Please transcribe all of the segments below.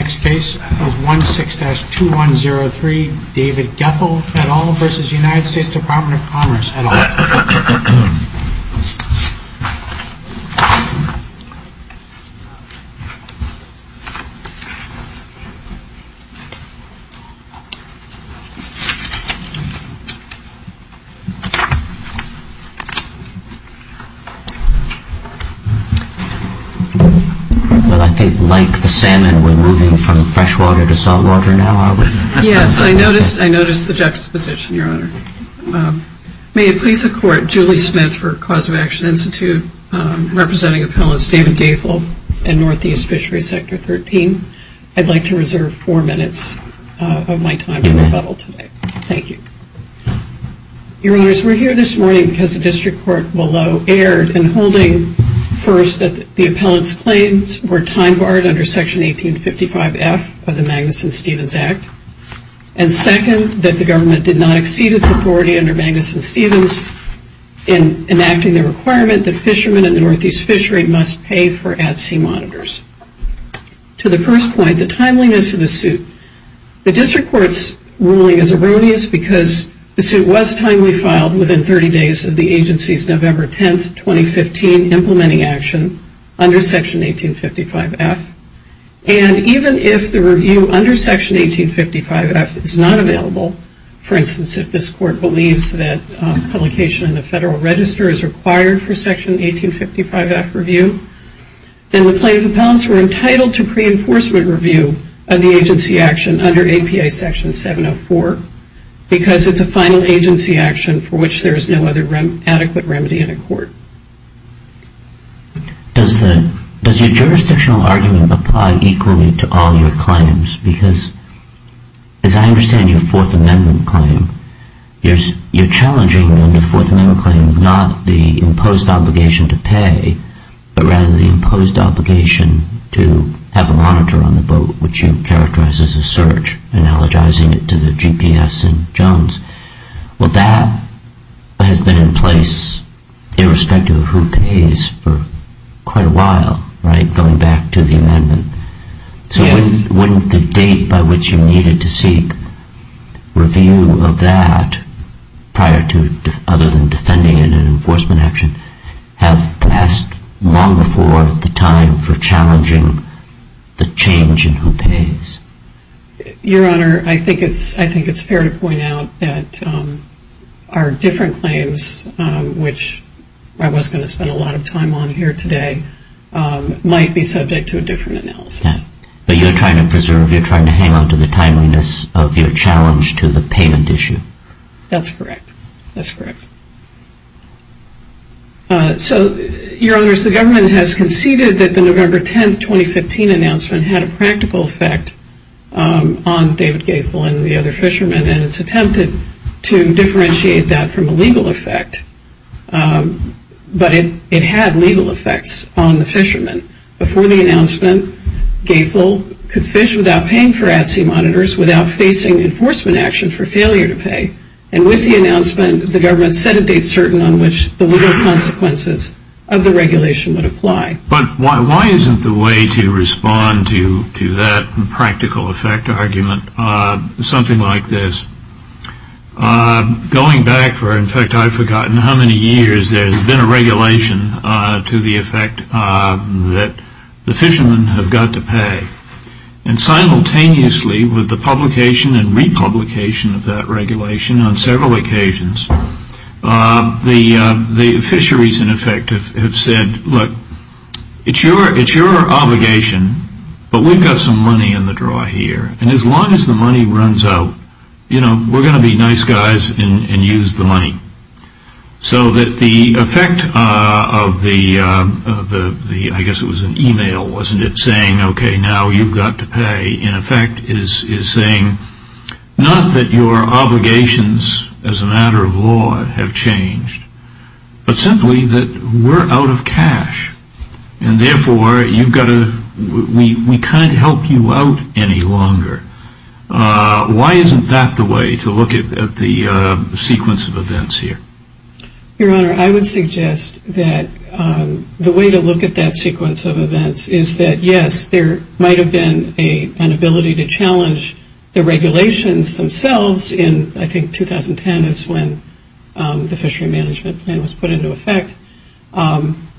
Next case is 16-2103 David Goethel et al. v. US Dept of Commerce et al. May it please the Court, Julie Smith for Cause of Action Institute, representing Appellants David Goethel and Northeast Fisheries Sector 13. I'd like to reserve four minutes of my time to rebuttal today. Thank you. Your Honors, we're here this morning because the District Court below erred in holding, first, that the Appellant's claims were time barred under Section 1855F of the Magnuson-Stevens Act, and second, that the Government did not exceed its authority under Magnuson-Stevens in enacting the requirement that fishermen and the Northeast Fishery must pay for at-sea monitors. To the first point, the timeliness of the suit. The Court's ruling is erroneous because the suit was timely filed within 30 days of the Agency's November 10, 2015 implementing action under Section 1855F, and even if the review under Section 1855F is not available, for instance, if this Court believes that publication in the Federal Register is required for Section 1855F review, then the plaintiff appellants were entitled to pre-enforcement review of the Agency action under APA Section 704, because it's a final Agency action for which there is no other adequate remedy in a court. Does your jurisdictional argument apply equally to all your claims? Because as I understand your Fourth Amendment claim, you're challenging in the Fourth Amendment claim not the imposed obligation to have a monitor on the boat, which you characterize as a search, analogizing it to the GPS in Jones. Well, that has been in place irrespective of who pays for quite a while, right, going back to the Amendment. So wouldn't the date by which you needed to seek review of that prior to, other than defending it in an enforcement action, have passed long before the time for challenging the change in who pays? Your Honor, I think it's fair to point out that our different claims, which I wasn't going to spend a lot of time on here today, might be subject to a different analysis. But you're trying to preserve, you're trying to hang on to the timeliness of your challenge to the payment issue. That's correct. That's correct. So, Your Honors, the government has conceded that the November 10, 2015 announcement had a practical effect on David Gaethel and the other fishermen, and it's attempted to differentiate that from a legal effect. But it had legal effects on the fishermen. Before the announcement, Gaethel could fish without paying for at-sea monitors without facing enforcement action for failure to pay. And with the announcement, the government said it made certain on which the legal consequences of the regulation would apply. But why isn't the way to respond to that practical effect argument something like this? Going back for, in fact, I've forgotten how many years there's been a regulation to the effect that the fishermen have got to pay. And simultaneously with the publication and republication of that regulation on several occasions, the fisheries, in effect, have said, look, it's your obligation, but we've got some money in the draw here. And as long as the money runs out, you know, we're going to be nice guys and use the money. So that the effect of the, I guess it was an email, wasn't it, saying, okay, now you've got to pay, in effect, is saying not that your obligations as a matter of law have changed, but simply that we're out of cash. And therefore, you've got to, we can't help you out any longer. Why isn't that the way to look at the sequence of events here? Your Honor, I would suggest that the way to look at that sequence of events is that, yes, there might have been an ability to challenge the regulations themselves in, I think, 2010 is when the fishery management plan was put into effect.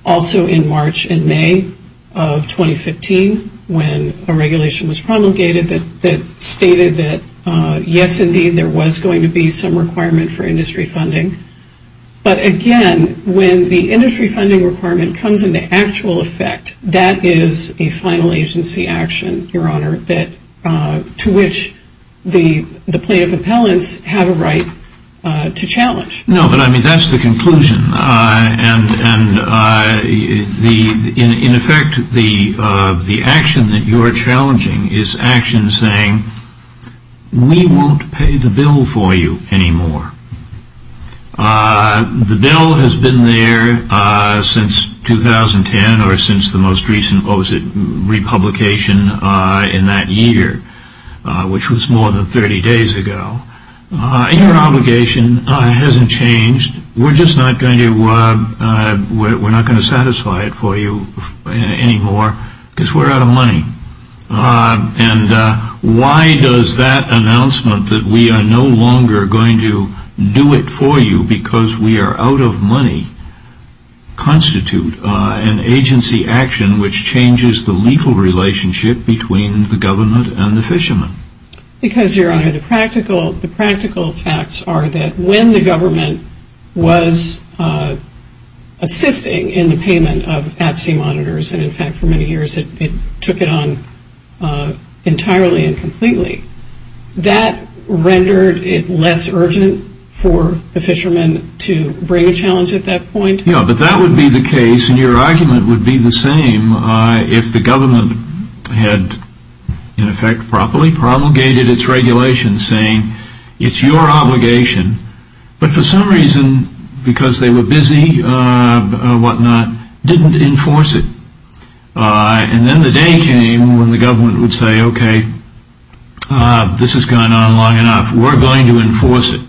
Also in March and May of 2015, when a regulation was promulgated that stated that, yes, indeed, there was going to be some requirement for industry funding. But again, when the industry funding requirement comes into actual effect, that is a final agency action, Your Honor, to which the plaintiff and the appellants have a right to challenge. No, but I mean, that's the conclusion. And in effect, the action that you're challenging is action saying, we won't pay the bill for you anymore. The bill has been there since 2010 or since the most recent, what was it, republication in that year, which was more than 30 days ago. Your obligation hasn't changed. We're just not going to satisfy it for you anymore because we're out of money. And why does that announcement that we are no longer going to do it for you because we are out of money constitute an agency action which changes the legal relationship between the government and the fishermen? Because, Your Honor, the practical facts are that when the government was assisting in the payment of at-sea monitors, and in fact, for many years, it took it on entirely and completely, that rendered it less urgent for the fishermen to bring a challenge at that point. Yes, but that would be the case, and your argument would be the same, if the government had, in effect, properly promulgated its regulations saying, it's your obligation, but for some reason, because they were busy or whatnot, didn't enforce it. And then the day came when the government would say, okay, this has gone on long enough. We're going to enforce it.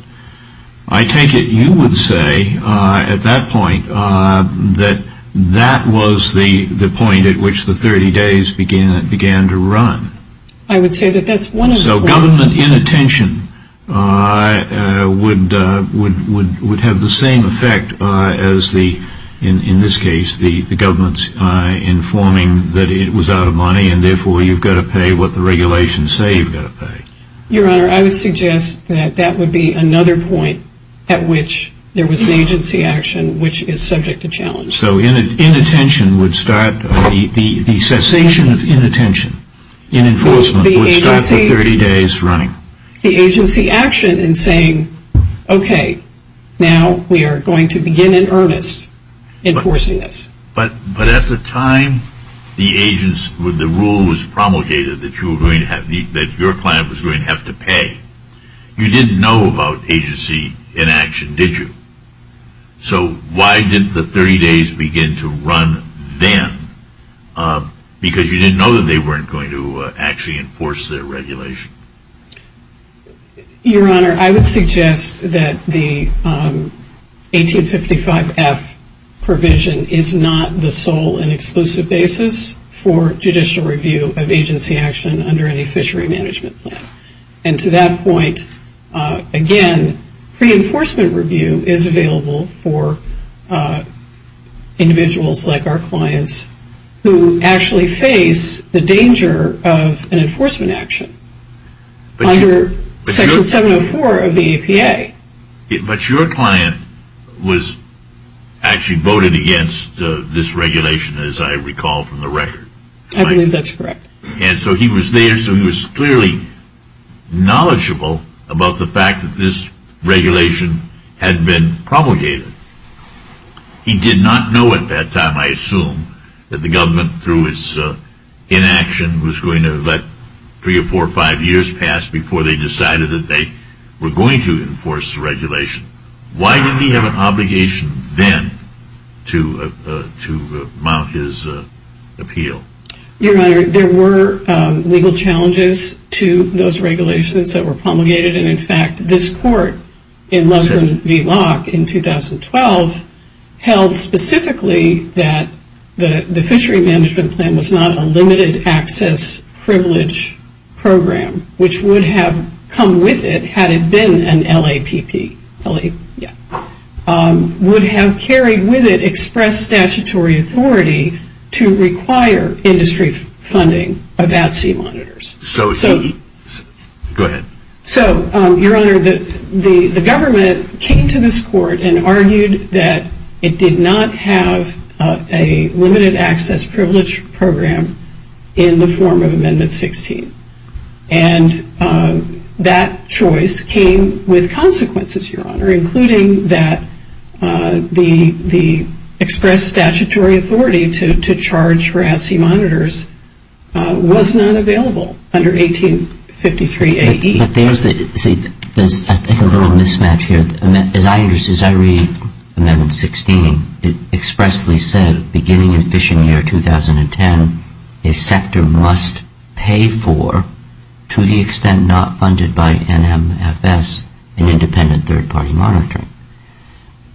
I take it you would say, at that point, that that was the point at which the 30 days began to run. I would say that that's one of the points. So government inattention would have the same effect as, in this case, the government informing that it was out of money, and therefore, you've got to pay what the regulations say you've got to pay. Your Honor, I would suggest that that would be another point at which there was an agency action which is subject to challenge. So inattention would start, the cessation of inattention, in enforcement, would start the 30 days running. The agency action in saying, okay, now we are going to begin in earnest enforcing this. But at the time the agency, the rule was promulgated that you were going to have, that your client was going to have to pay, you didn't know about agency inaction, did you? So why didn't the 30 days begin to run then? Because you didn't know that they weren't going to actually enforce their regulation. Your Honor, I would suggest that the 1855F provision is not the sole and exclusive basis for judicial review of agency action under any fishery management plan. And to that point, again, pre-enforcement review is available for individuals like our clients who actually face the danger of an enforcement action under Section 704 of the APA. But your client was actually voted against this regulation, as I recall from the record. I believe that's correct. And so he was there, so he was clearly knowledgeable about the fact that this regulation had been promulgated. He did not know at that time, I assume, that the government through its inaction was going to let three or four or five years pass before they decided that they were going to enforce the regulation. Why did he have an obligation then to mount his appeal? Your Honor, there were legal challenges to those regulations that were promulgated. And in fact, this court in Loveland v. Locke in 2012 held specifically that the fishery management plan was not a limited access privilege program, which would have come with it had it been an LAPP. Would have carried with it express statutory authority to require industry funding of at-sea monitors. Go ahead. So, Your Honor, the government came to this court and argued that it did not have a limited access privilege program in the form of Amendment 16. And that choice came with consequences, Your Honor, including that the express statutory authority to charge for at-sea monitors was not available under 1853 A.E. But there's a little mismatch here. As I understand, as I read Amendment 16, it expressly said beginning in fishing year 2010, a sector must pay for, to the extent not funded by NMFS, an independent third-party monitoring.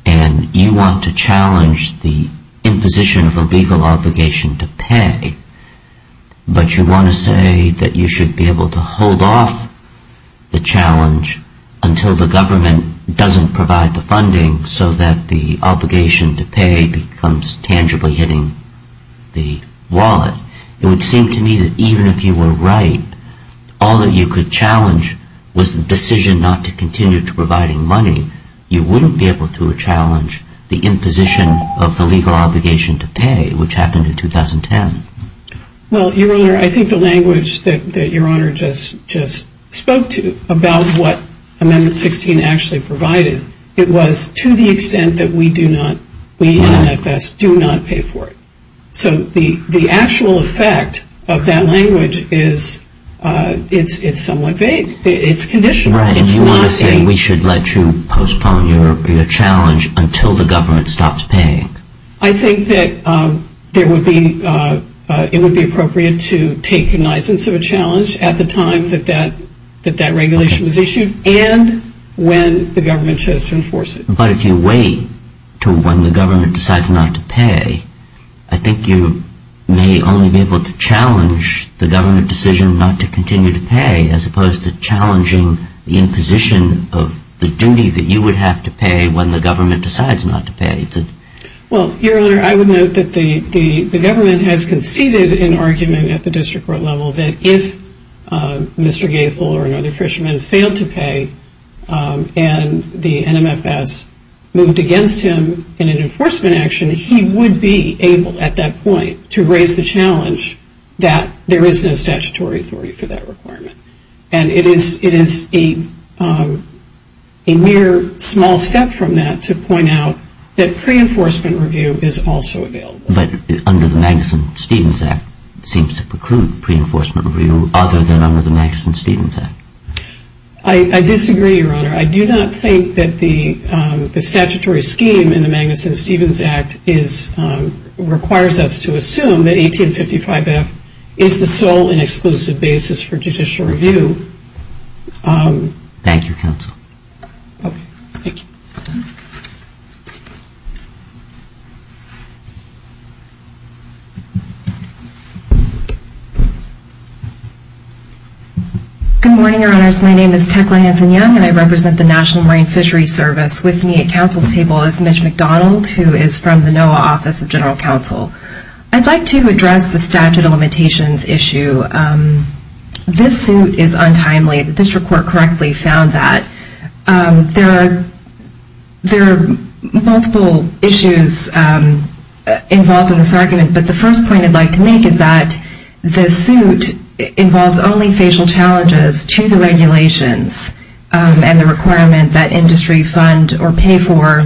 And you want to challenge the imposition of a legal obligation to pay, but you want to say that you should be able to hold off the challenge until the government doesn't provide the funding so that the obligation to pay becomes tangibly hitting the wallet. It would seem to me that even if you were right, all that you could challenge was the decision not to continue to providing money. You wouldn't be able to challenge the imposition of the legal obligation to pay, which happened in 2010. Well, Your Honor, I think the language that Your Honor just spoke to about what Amendment 16 actually provided, it was to the extent that we do not, we NMFS, do not pay for it. So the actual effect of that language is it's somewhat vague. It's conditional. Right. And you want to say we should let you postpone your challenge until the government stops paying. I think that there would be, it would be appropriate to take the license of a challenge at the time that that regulation was issued and when the government chose to enforce it. But if you wait to when the government decides not to pay, I think you may only be able to challenge the government decision not to continue to pay as opposed to challenging the imposition of the duty that you would have to pay when the government decides not to pay. Well, Your Honor, I would note that the government has conceded an argument at the district court level that if Mr. Gaethel or another fisherman failed to pay and the NMFS moved against him in an enforcement action, he would be able at that point to raise the challenge that there is no statutory authority for that requirement. And it is a mere small step from that to point out that pre-enforcement review is also available. But under the Magnuson-Stevens Act, it seems to preclude pre-enforcement review other than under the Magnuson-Stevens Act. I disagree, Your Honor. I do not think that the statutory scheme in the Magnuson-Stevens Act is, requires us to assume that 1855F is the sole and exclusive basis for judicial review. Thank you, Counsel. Okay. Thank you. Good morning, Your Honors. My name is Tecla Hanson-Young, and I represent the National Marine Fisheries Service. With me at counsel's table is Mitch McDonald, who is from the NOAA Office of General Counsel. I'd like to address the statute of limitations issue. This suit is untimely. The district There are multiple issues involved in this argument, but the first point I'd like to make is that this suit involves only facial challenges to the regulations and the requirement that industry fund or pay for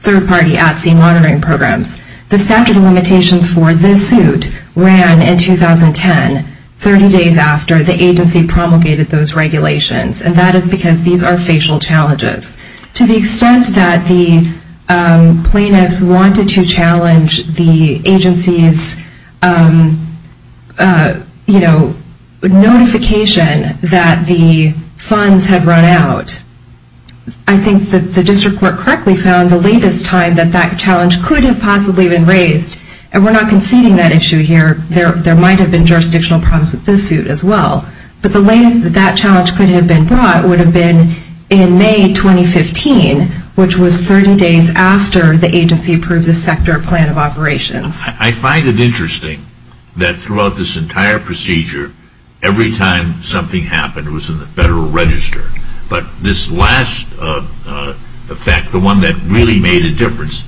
third-party at-sea monitoring programs. The statute of limitations for this suit ran in 2010, 30 days after the agency promulgated those regulations, and that is because these are facial challenges. To the extent that the plaintiffs wanted to challenge the agency's, you know, notification that the funds had run out, I think that the district court correctly found the latest time that that challenge could have possibly been raised, and we're not conceding that issue here. There might have been jurisdictional problems with this suit as well, but the latest that that challenge could have been brought would have been in May 2015, which was 30 days after the agency approved the sector plan of operations. I find it interesting that throughout this entire procedure, every time something happened, it was in the Federal Register, but this last effect, the one that really made a difference,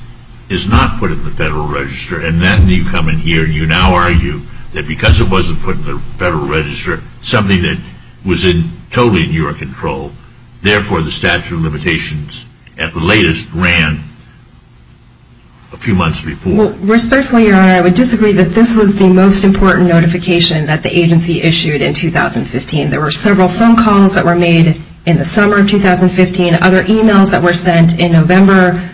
is not put in the Federal Register, and then you come in here and you now argue that because it wasn't put in the Federal Register, something that was totally in your control, therefore the statute of limitations at the latest ran a few months before. Respectfully, Your Honor, I would disagree that this was the most important notification that the agency issued in 2015. There were several phone calls that were made in the summer of 2015, other emails that were sent in November,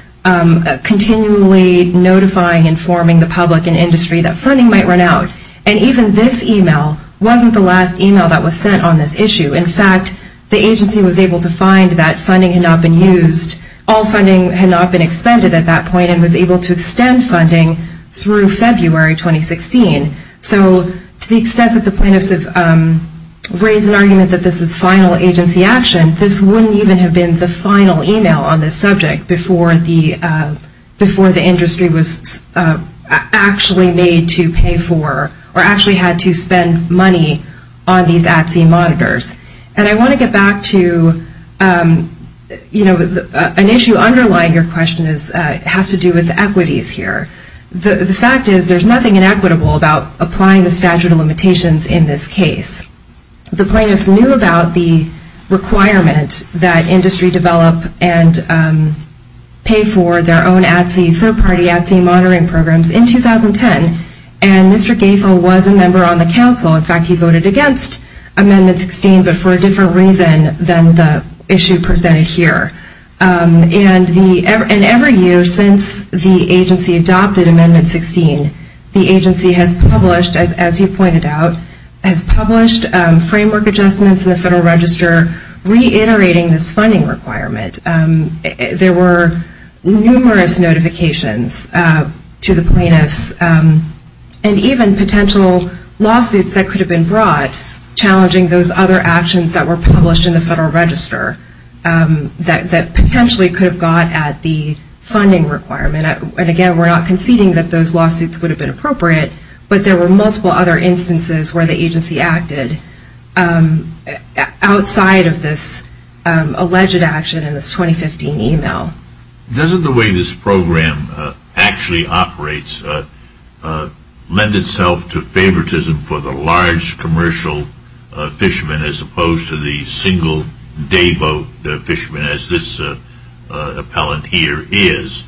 continually notifying, informing the public and industry that funding might run out, and even this email wasn't the last email that was sent on this issue. In fact, the agency was able to find that funding had not been used, all funding had not been expended at that point, and was able to extend funding through February 2016. So to the extent that the plaintiffs have raised an argument that this is final agency action, this wouldn't even have been the final email on this subject before the industry was actually made to pay for, or actually had to spend money on these at-sea monitors. And I want to get back to, you know, an issue underlying your question has to do with equities here. The fact is there's nothing inequitable about applying the statute of limitations in this case. The plaintiffs knew about the requirement that they would pay for their own at-sea, third-party at-sea monitoring programs in 2010, and Mr. Gaefel was a member on the council. In fact, he voted against Amendment 16, but for a different reason than the issue presented here. And every year since the agency adopted Amendment 16, the agency has published, as you pointed out, has published framework adjustments in the federal register. There were numerous notifications to the plaintiffs, and even potential lawsuits that could have been brought, challenging those other actions that were published in the federal register that potentially could have got at the funding requirement. And again, we're not conceding that those lawsuits would have been appropriate, but there were multiple other instances where the agency acted outside of this alleged action in this 2015 email. Doesn't the way this program actually operates lend itself to favoritism for the large commercial fisherman as opposed to the single dayboat fisherman as this appellant here is?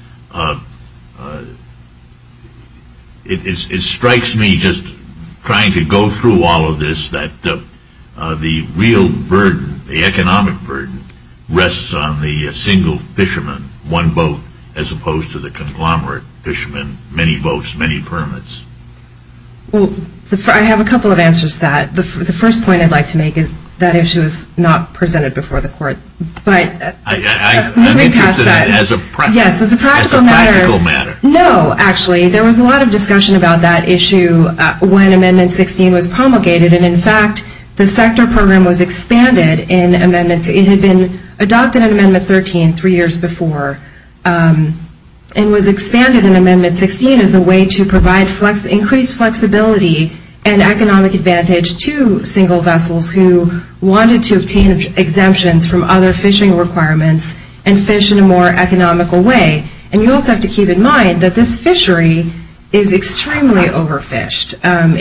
It strikes me just trying to go through all of this that the real burden, the economic burden, rests on the single fisherman, one boat, as opposed to the conglomerate fisherman, many boats, many permits. Well, I have a couple of answers to that. The first point I'd like to make is that issue is not presented before the court, but let me pass that. I'm interested in it as a practical matter. Yes, as a practical matter. As a practical matter. No, actually. There was a lot of discussion about that issue when Amendment 16 was promulgated, and in fact, the sector program was expanded in Amendments. It had been adopted in Amendment 13 three years before and was expanded in Amendment 16 as a way to provide increased flexibility and economic advantage to single vessels who wanted to obtain exemptions from other fishing requirements and fish in a more economical way. And you also have to keep in mind that this fishery is extremely overfished.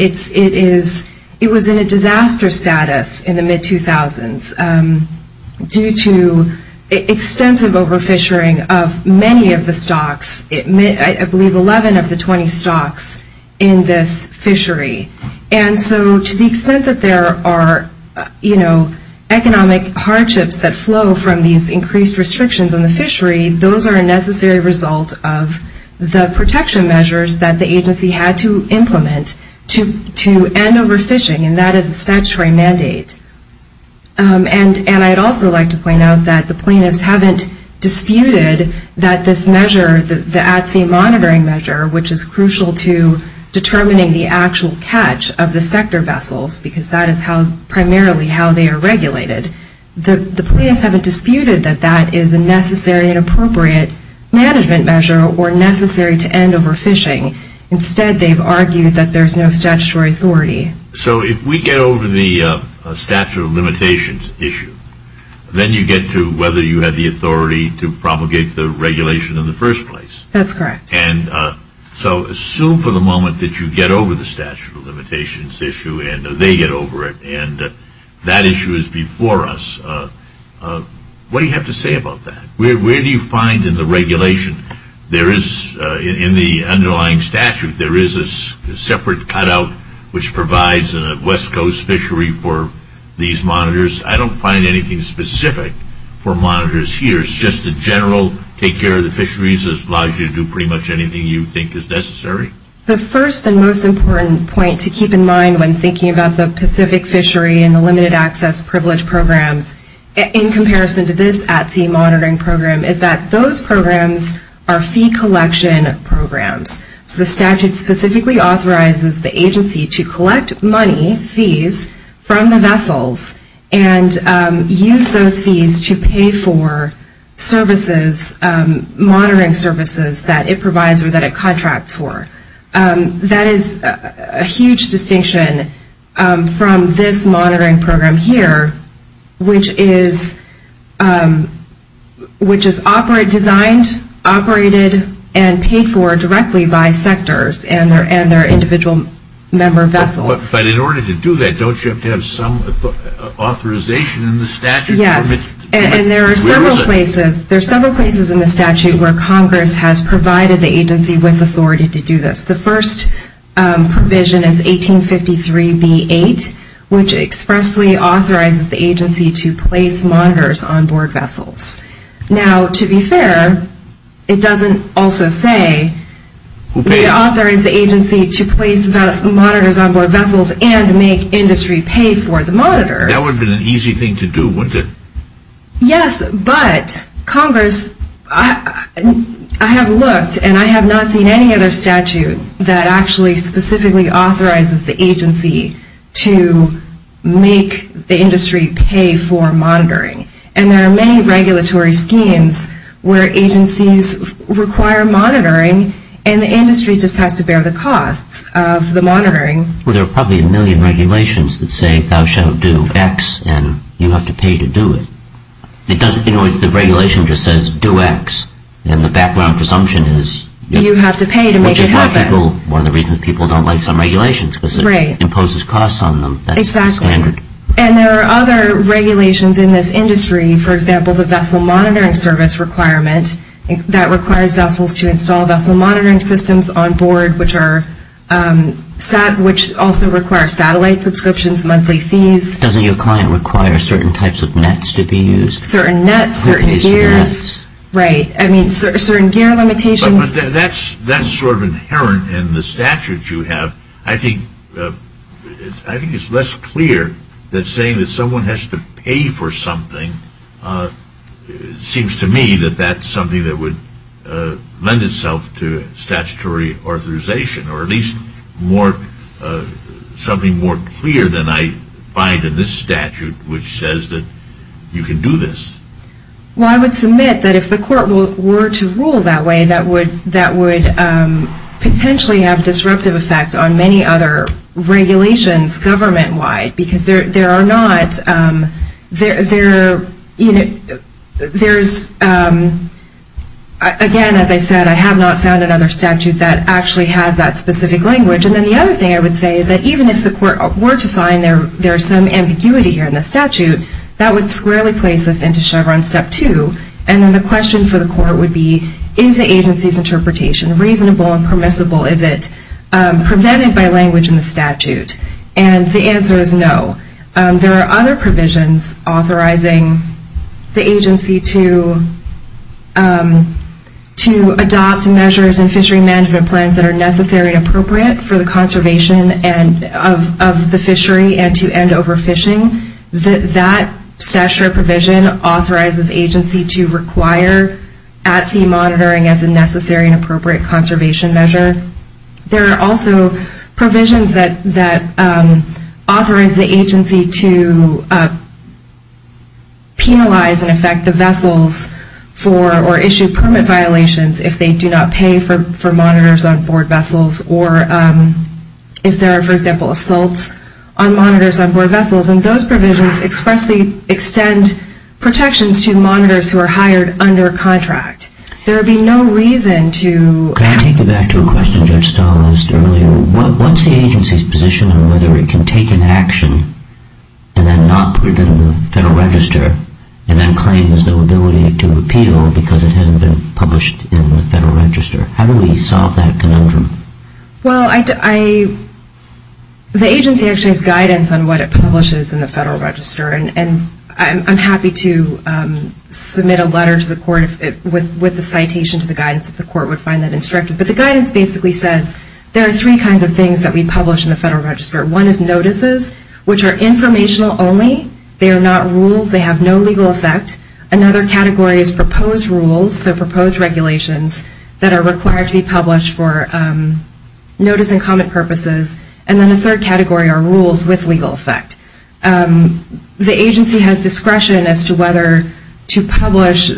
It is, it was in a disaster status in the mid-2000s due to extensive overfishing of many of the stocks, I believe 11 of the 20 stocks in this fishery. And so to the extent that there are, you know, economic hardships that flow from these increased restrictions on the fishery, those are a necessary result of the protection measures that the fishery has put in place to prevent overfishing, and that is a statutory mandate. And I'd also like to point out that the plaintiffs haven't disputed that this measure, the at-sea monitoring measure, which is crucial to determining the actual catch of the sector vessels because that is how, primarily how they are regulated. The plaintiffs haven't disputed that that is a necessary and appropriate management measure or necessary to end overfishing. Instead they've argued that there's no statutory authority. So if we get over the statute of limitations issue, then you get to whether you have the authority to propagate the regulation in the first place. That's correct. And so assume for the moment that you get over the statute of limitations issue and they get over it and that issue is before us, what do you have to say about that? Where do you find in the regulation there is, in the underlying statute, there is a separate cut-out which provides a West Coast fishery for these monitors? I don't find anything specific for monitors here. It's just the general take care of the fisheries allows you to do pretty much anything you think is necessary. The first and most important point to keep in mind when thinking about the Pacific fishery and the limited access privilege programs in comparison to this at-sea monitoring program is that those programs are fee collection programs. So the statute specifically authorizes the agency to collect money, fees, from the vessels and use those fees to pay for services, monitoring services that it provides or that it contracts for. That is a huge distinction from this monitoring program here, which is, which is specifically designed, operated, and paid for directly by sectors and their individual member vessels. But in order to do that, don't you have to have some authorization in the statute? Yes, and there are several places in the statute where Congress has provided the agency with authority to do this. The first provision is 1853B8, which expressly authorizes the agency to place monitors on board vessels and make industry pay for the monitors. That would have been an easy thing to do, wouldn't it? Yes, but Congress, I have looked and I have not seen any other statute that actually specifically authorizes the agency to make the industry pay for monitoring. And there are many regulatory schemes where agencies require monitoring and the industry just has to bear the costs of the monitoring. Well, there are probably a million regulations that say thou shalt do X and you have to pay to do it. It doesn't, you know, the regulation just says do X and the background presumption is you have to pay to make it happen, which is why people, one of the reasons people don't like some regulations because it imposes costs on them. Exactly. And there are other regulations in this industry, for example, the Vessel Monitoring Service requirement that requires vessels to install vessel monitoring systems on board which are, which also require satellite subscriptions, monthly fees. Doesn't your client require certain types of nets to be used? Certain nets, certain gears, right. I mean, certain gear limitations. That's sort of inherent in the statutes you have. I think it's less clear that saying that someone has to pay for something seems to me that that's something that would lend itself to statutory authorization or at least something more clear than I find in this statute which says that you can do this. Well, I would submit that if the court were to rule that way, that would potentially have disruptive effect on many other regulations government-wide because there are not, there's, again, as I said, I have not found another statute that actually has that specific language and then the other thing I would say is that even if the court were to find there's some that actually place this into Chevron Step 2 and then the question for the court would be is the agency's interpretation reasonable and permissible? Is it prevented by language in the statute? And the answer is no. There are other provisions authorizing the agency to adopt measures and fishery management plans that are necessary and appropriate for the fishery. There are other provisions authorizing the agency to require at-sea monitoring as a necessary and appropriate conservation measure. There are also provisions that authorize the agency to penalize and affect the vessels for or issue permit violations if they do not pay for monitors on board vessels or if there are, for example, assaults on monitors on board vessels and those provisions expressly extend protections to monitors who are hired under contract. There would be no reason to... Can I take you back to a question Judge Stahl asked earlier? What's the agency's position on whether it can take an action and then not put it in the Federal Register and then claim there's no ability to repeal because it hasn't been published in the Federal Register? How do we solve that conundrum? Well, the agency actually has guidance on what it publishes in the Federal Register and I'm happy to submit a letter to the court with the citation to the guidance if the court would find that instructive. But the guidance basically says there are three kinds of things that we publish in the Federal Register. One is notices, which are informational only. They are not rules. They have no legal effect. Another category is proposed rules, so proposed regulations that are required to be published for notice and comment purposes. And then a third category are rules with legal effect. The agency has discretion as to whether to publish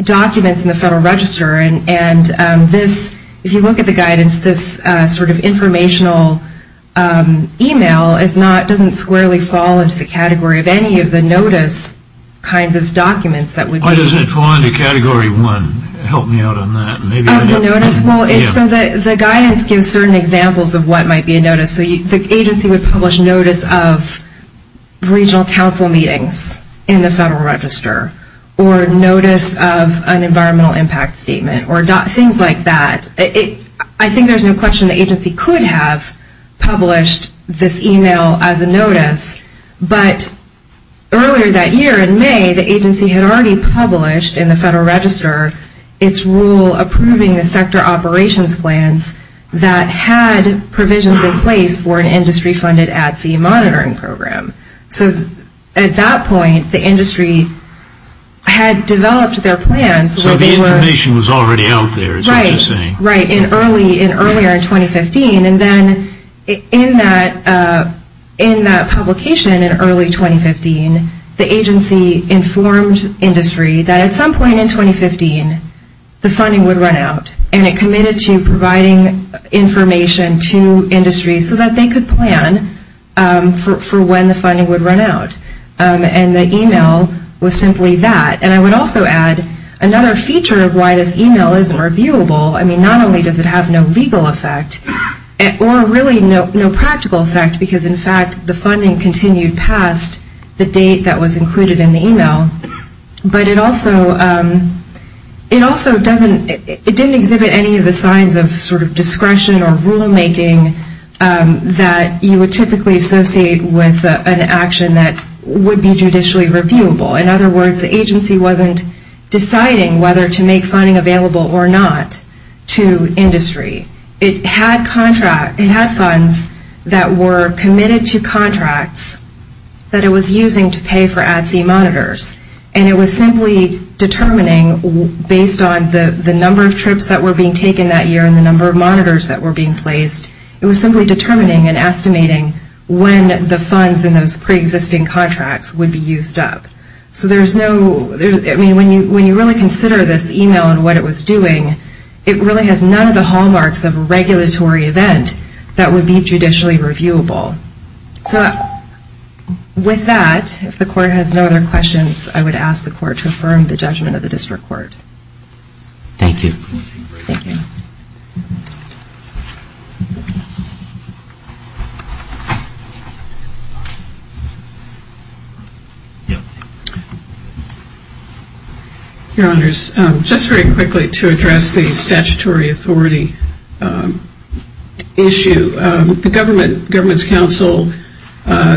documents in the Federal Register and this, if you look at the guidance, this sort of informational email is not, doesn't squarely fall into the category of any of the notice kinds of documents that would be... Help me out on that. As a notice? Yeah. So the guidance gives certain examples of what might be a notice. So the agency would publish notice of regional council meetings in the Federal Register or notice of an environmental impact statement or things like that. I think there's no question the agency could have published this email as a notice, but earlier that year in May, the agency had already published in the Federal Register its rule approving the sector operations plans that had provisions in place for an industry-funded at-sea monitoring program. So at that point, the industry had developed their plans. So the information was already out there, is what you're saying? Right. In early, in earlier 2015. And then in that, in that publication in early 2015, the agency informed industry that at some point in 2015, the funding would run out and it committed to providing information to industries so that they could plan for when the funding would run out. And the email was simply that. And I would also add another feature of why this email isn't reviewable. I mean, not only does it have no legal effect or really no in the email, but it also, it also doesn't, it didn't exhibit any of the signs of sort of discretion or rulemaking that you would typically associate with an action that would be judicially reviewable. In other words, the agency wasn't deciding whether to make funding available or not to industry. It had contract, it had funds that were committed to contracts that it was using to pay for at-sea monitors. And it was simply determining based on the number of trips that were being taken that year and the number of monitors that were being placed, it was simply determining and estimating when the funds in those preexisting contracts would be used up. So there's no, I mean, when you, when you really consider this email and what it was doing, it really has none of the hallmarks of a regulatory event that would be judicially reviewable. So with that, if the Court has no other questions, I would ask the Court to affirm the judgment of the District Court. Thank you. Thank you. Your Honors, just very quickly to address the statutory authority issue. The Government's Council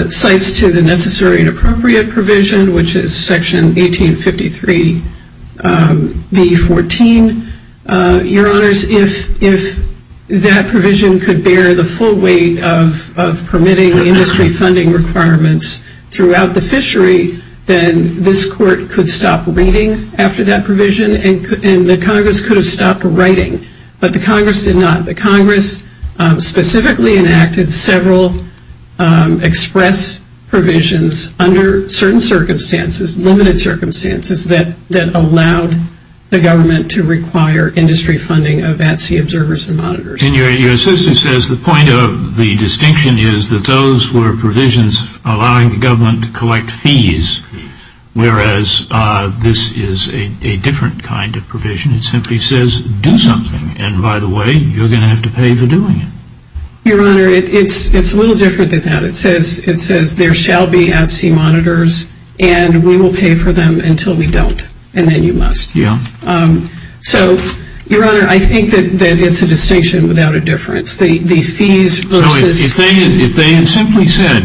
cites to the Necessary and Appropriate Provision, which is Section 1853B14. Your Honor, if that provision could bear the full weight of permitting the industry funding requirements throughout the fishery, then this Court could stop reading after that provision and the Congress could have stopped writing. But the Congress did not. The Congress specifically enacted several express provisions under certain circumstances, limited circumstances that allowed the Government to require industry funding of at-sea observers and monitors. And your assistant says the point of the distinction is that those were provisions allowing the Government to collect fees, whereas this is a different kind of provision. It simply says do something, and by the way, you're going to have to pay for doing it. Your Honor, it's a little different than that. It says there shall be at-sea monitors and we will pay for them until we don't, and then you must. Yeah. So, your Honor, I think that it's a distinction without a difference. The fees versus So if they had simply said,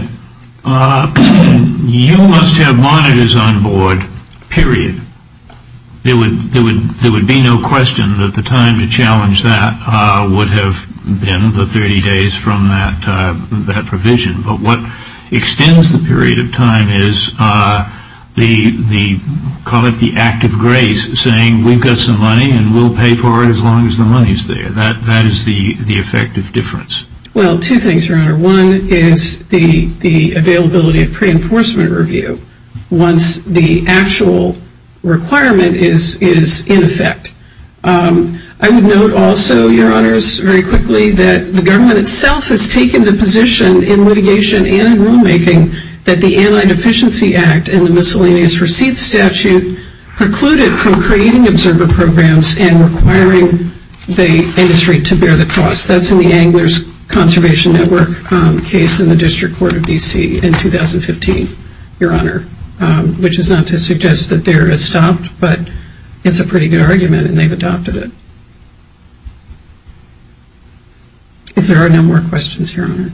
you must have monitors on board, period, there would be no question that the time to challenge that would have been the 30 days from that provision. But what extends the period of time is the, call it the act of grace, saying we've got some money and we'll pay for it as long as the money is there. That is the effective difference. Well, two things, your Honor. One is the availability of pre-enforcement review once the actual requirement is in effect. I would note also, your Honors, very quickly that the Government itself has taken the position in litigation and in rulemaking that the Anti-Deficiency Act and the Miscellaneous Receipts Statute precluded from creating observer programs and requiring the industry to bear the cost. That's in the Anglers Conservation Network case in the District Court of D.C. in 2015, your Honor, which is not to suggest that there is stopped, but it's a pretty good argument and they've adopted it. If there are no more questions, your Honor.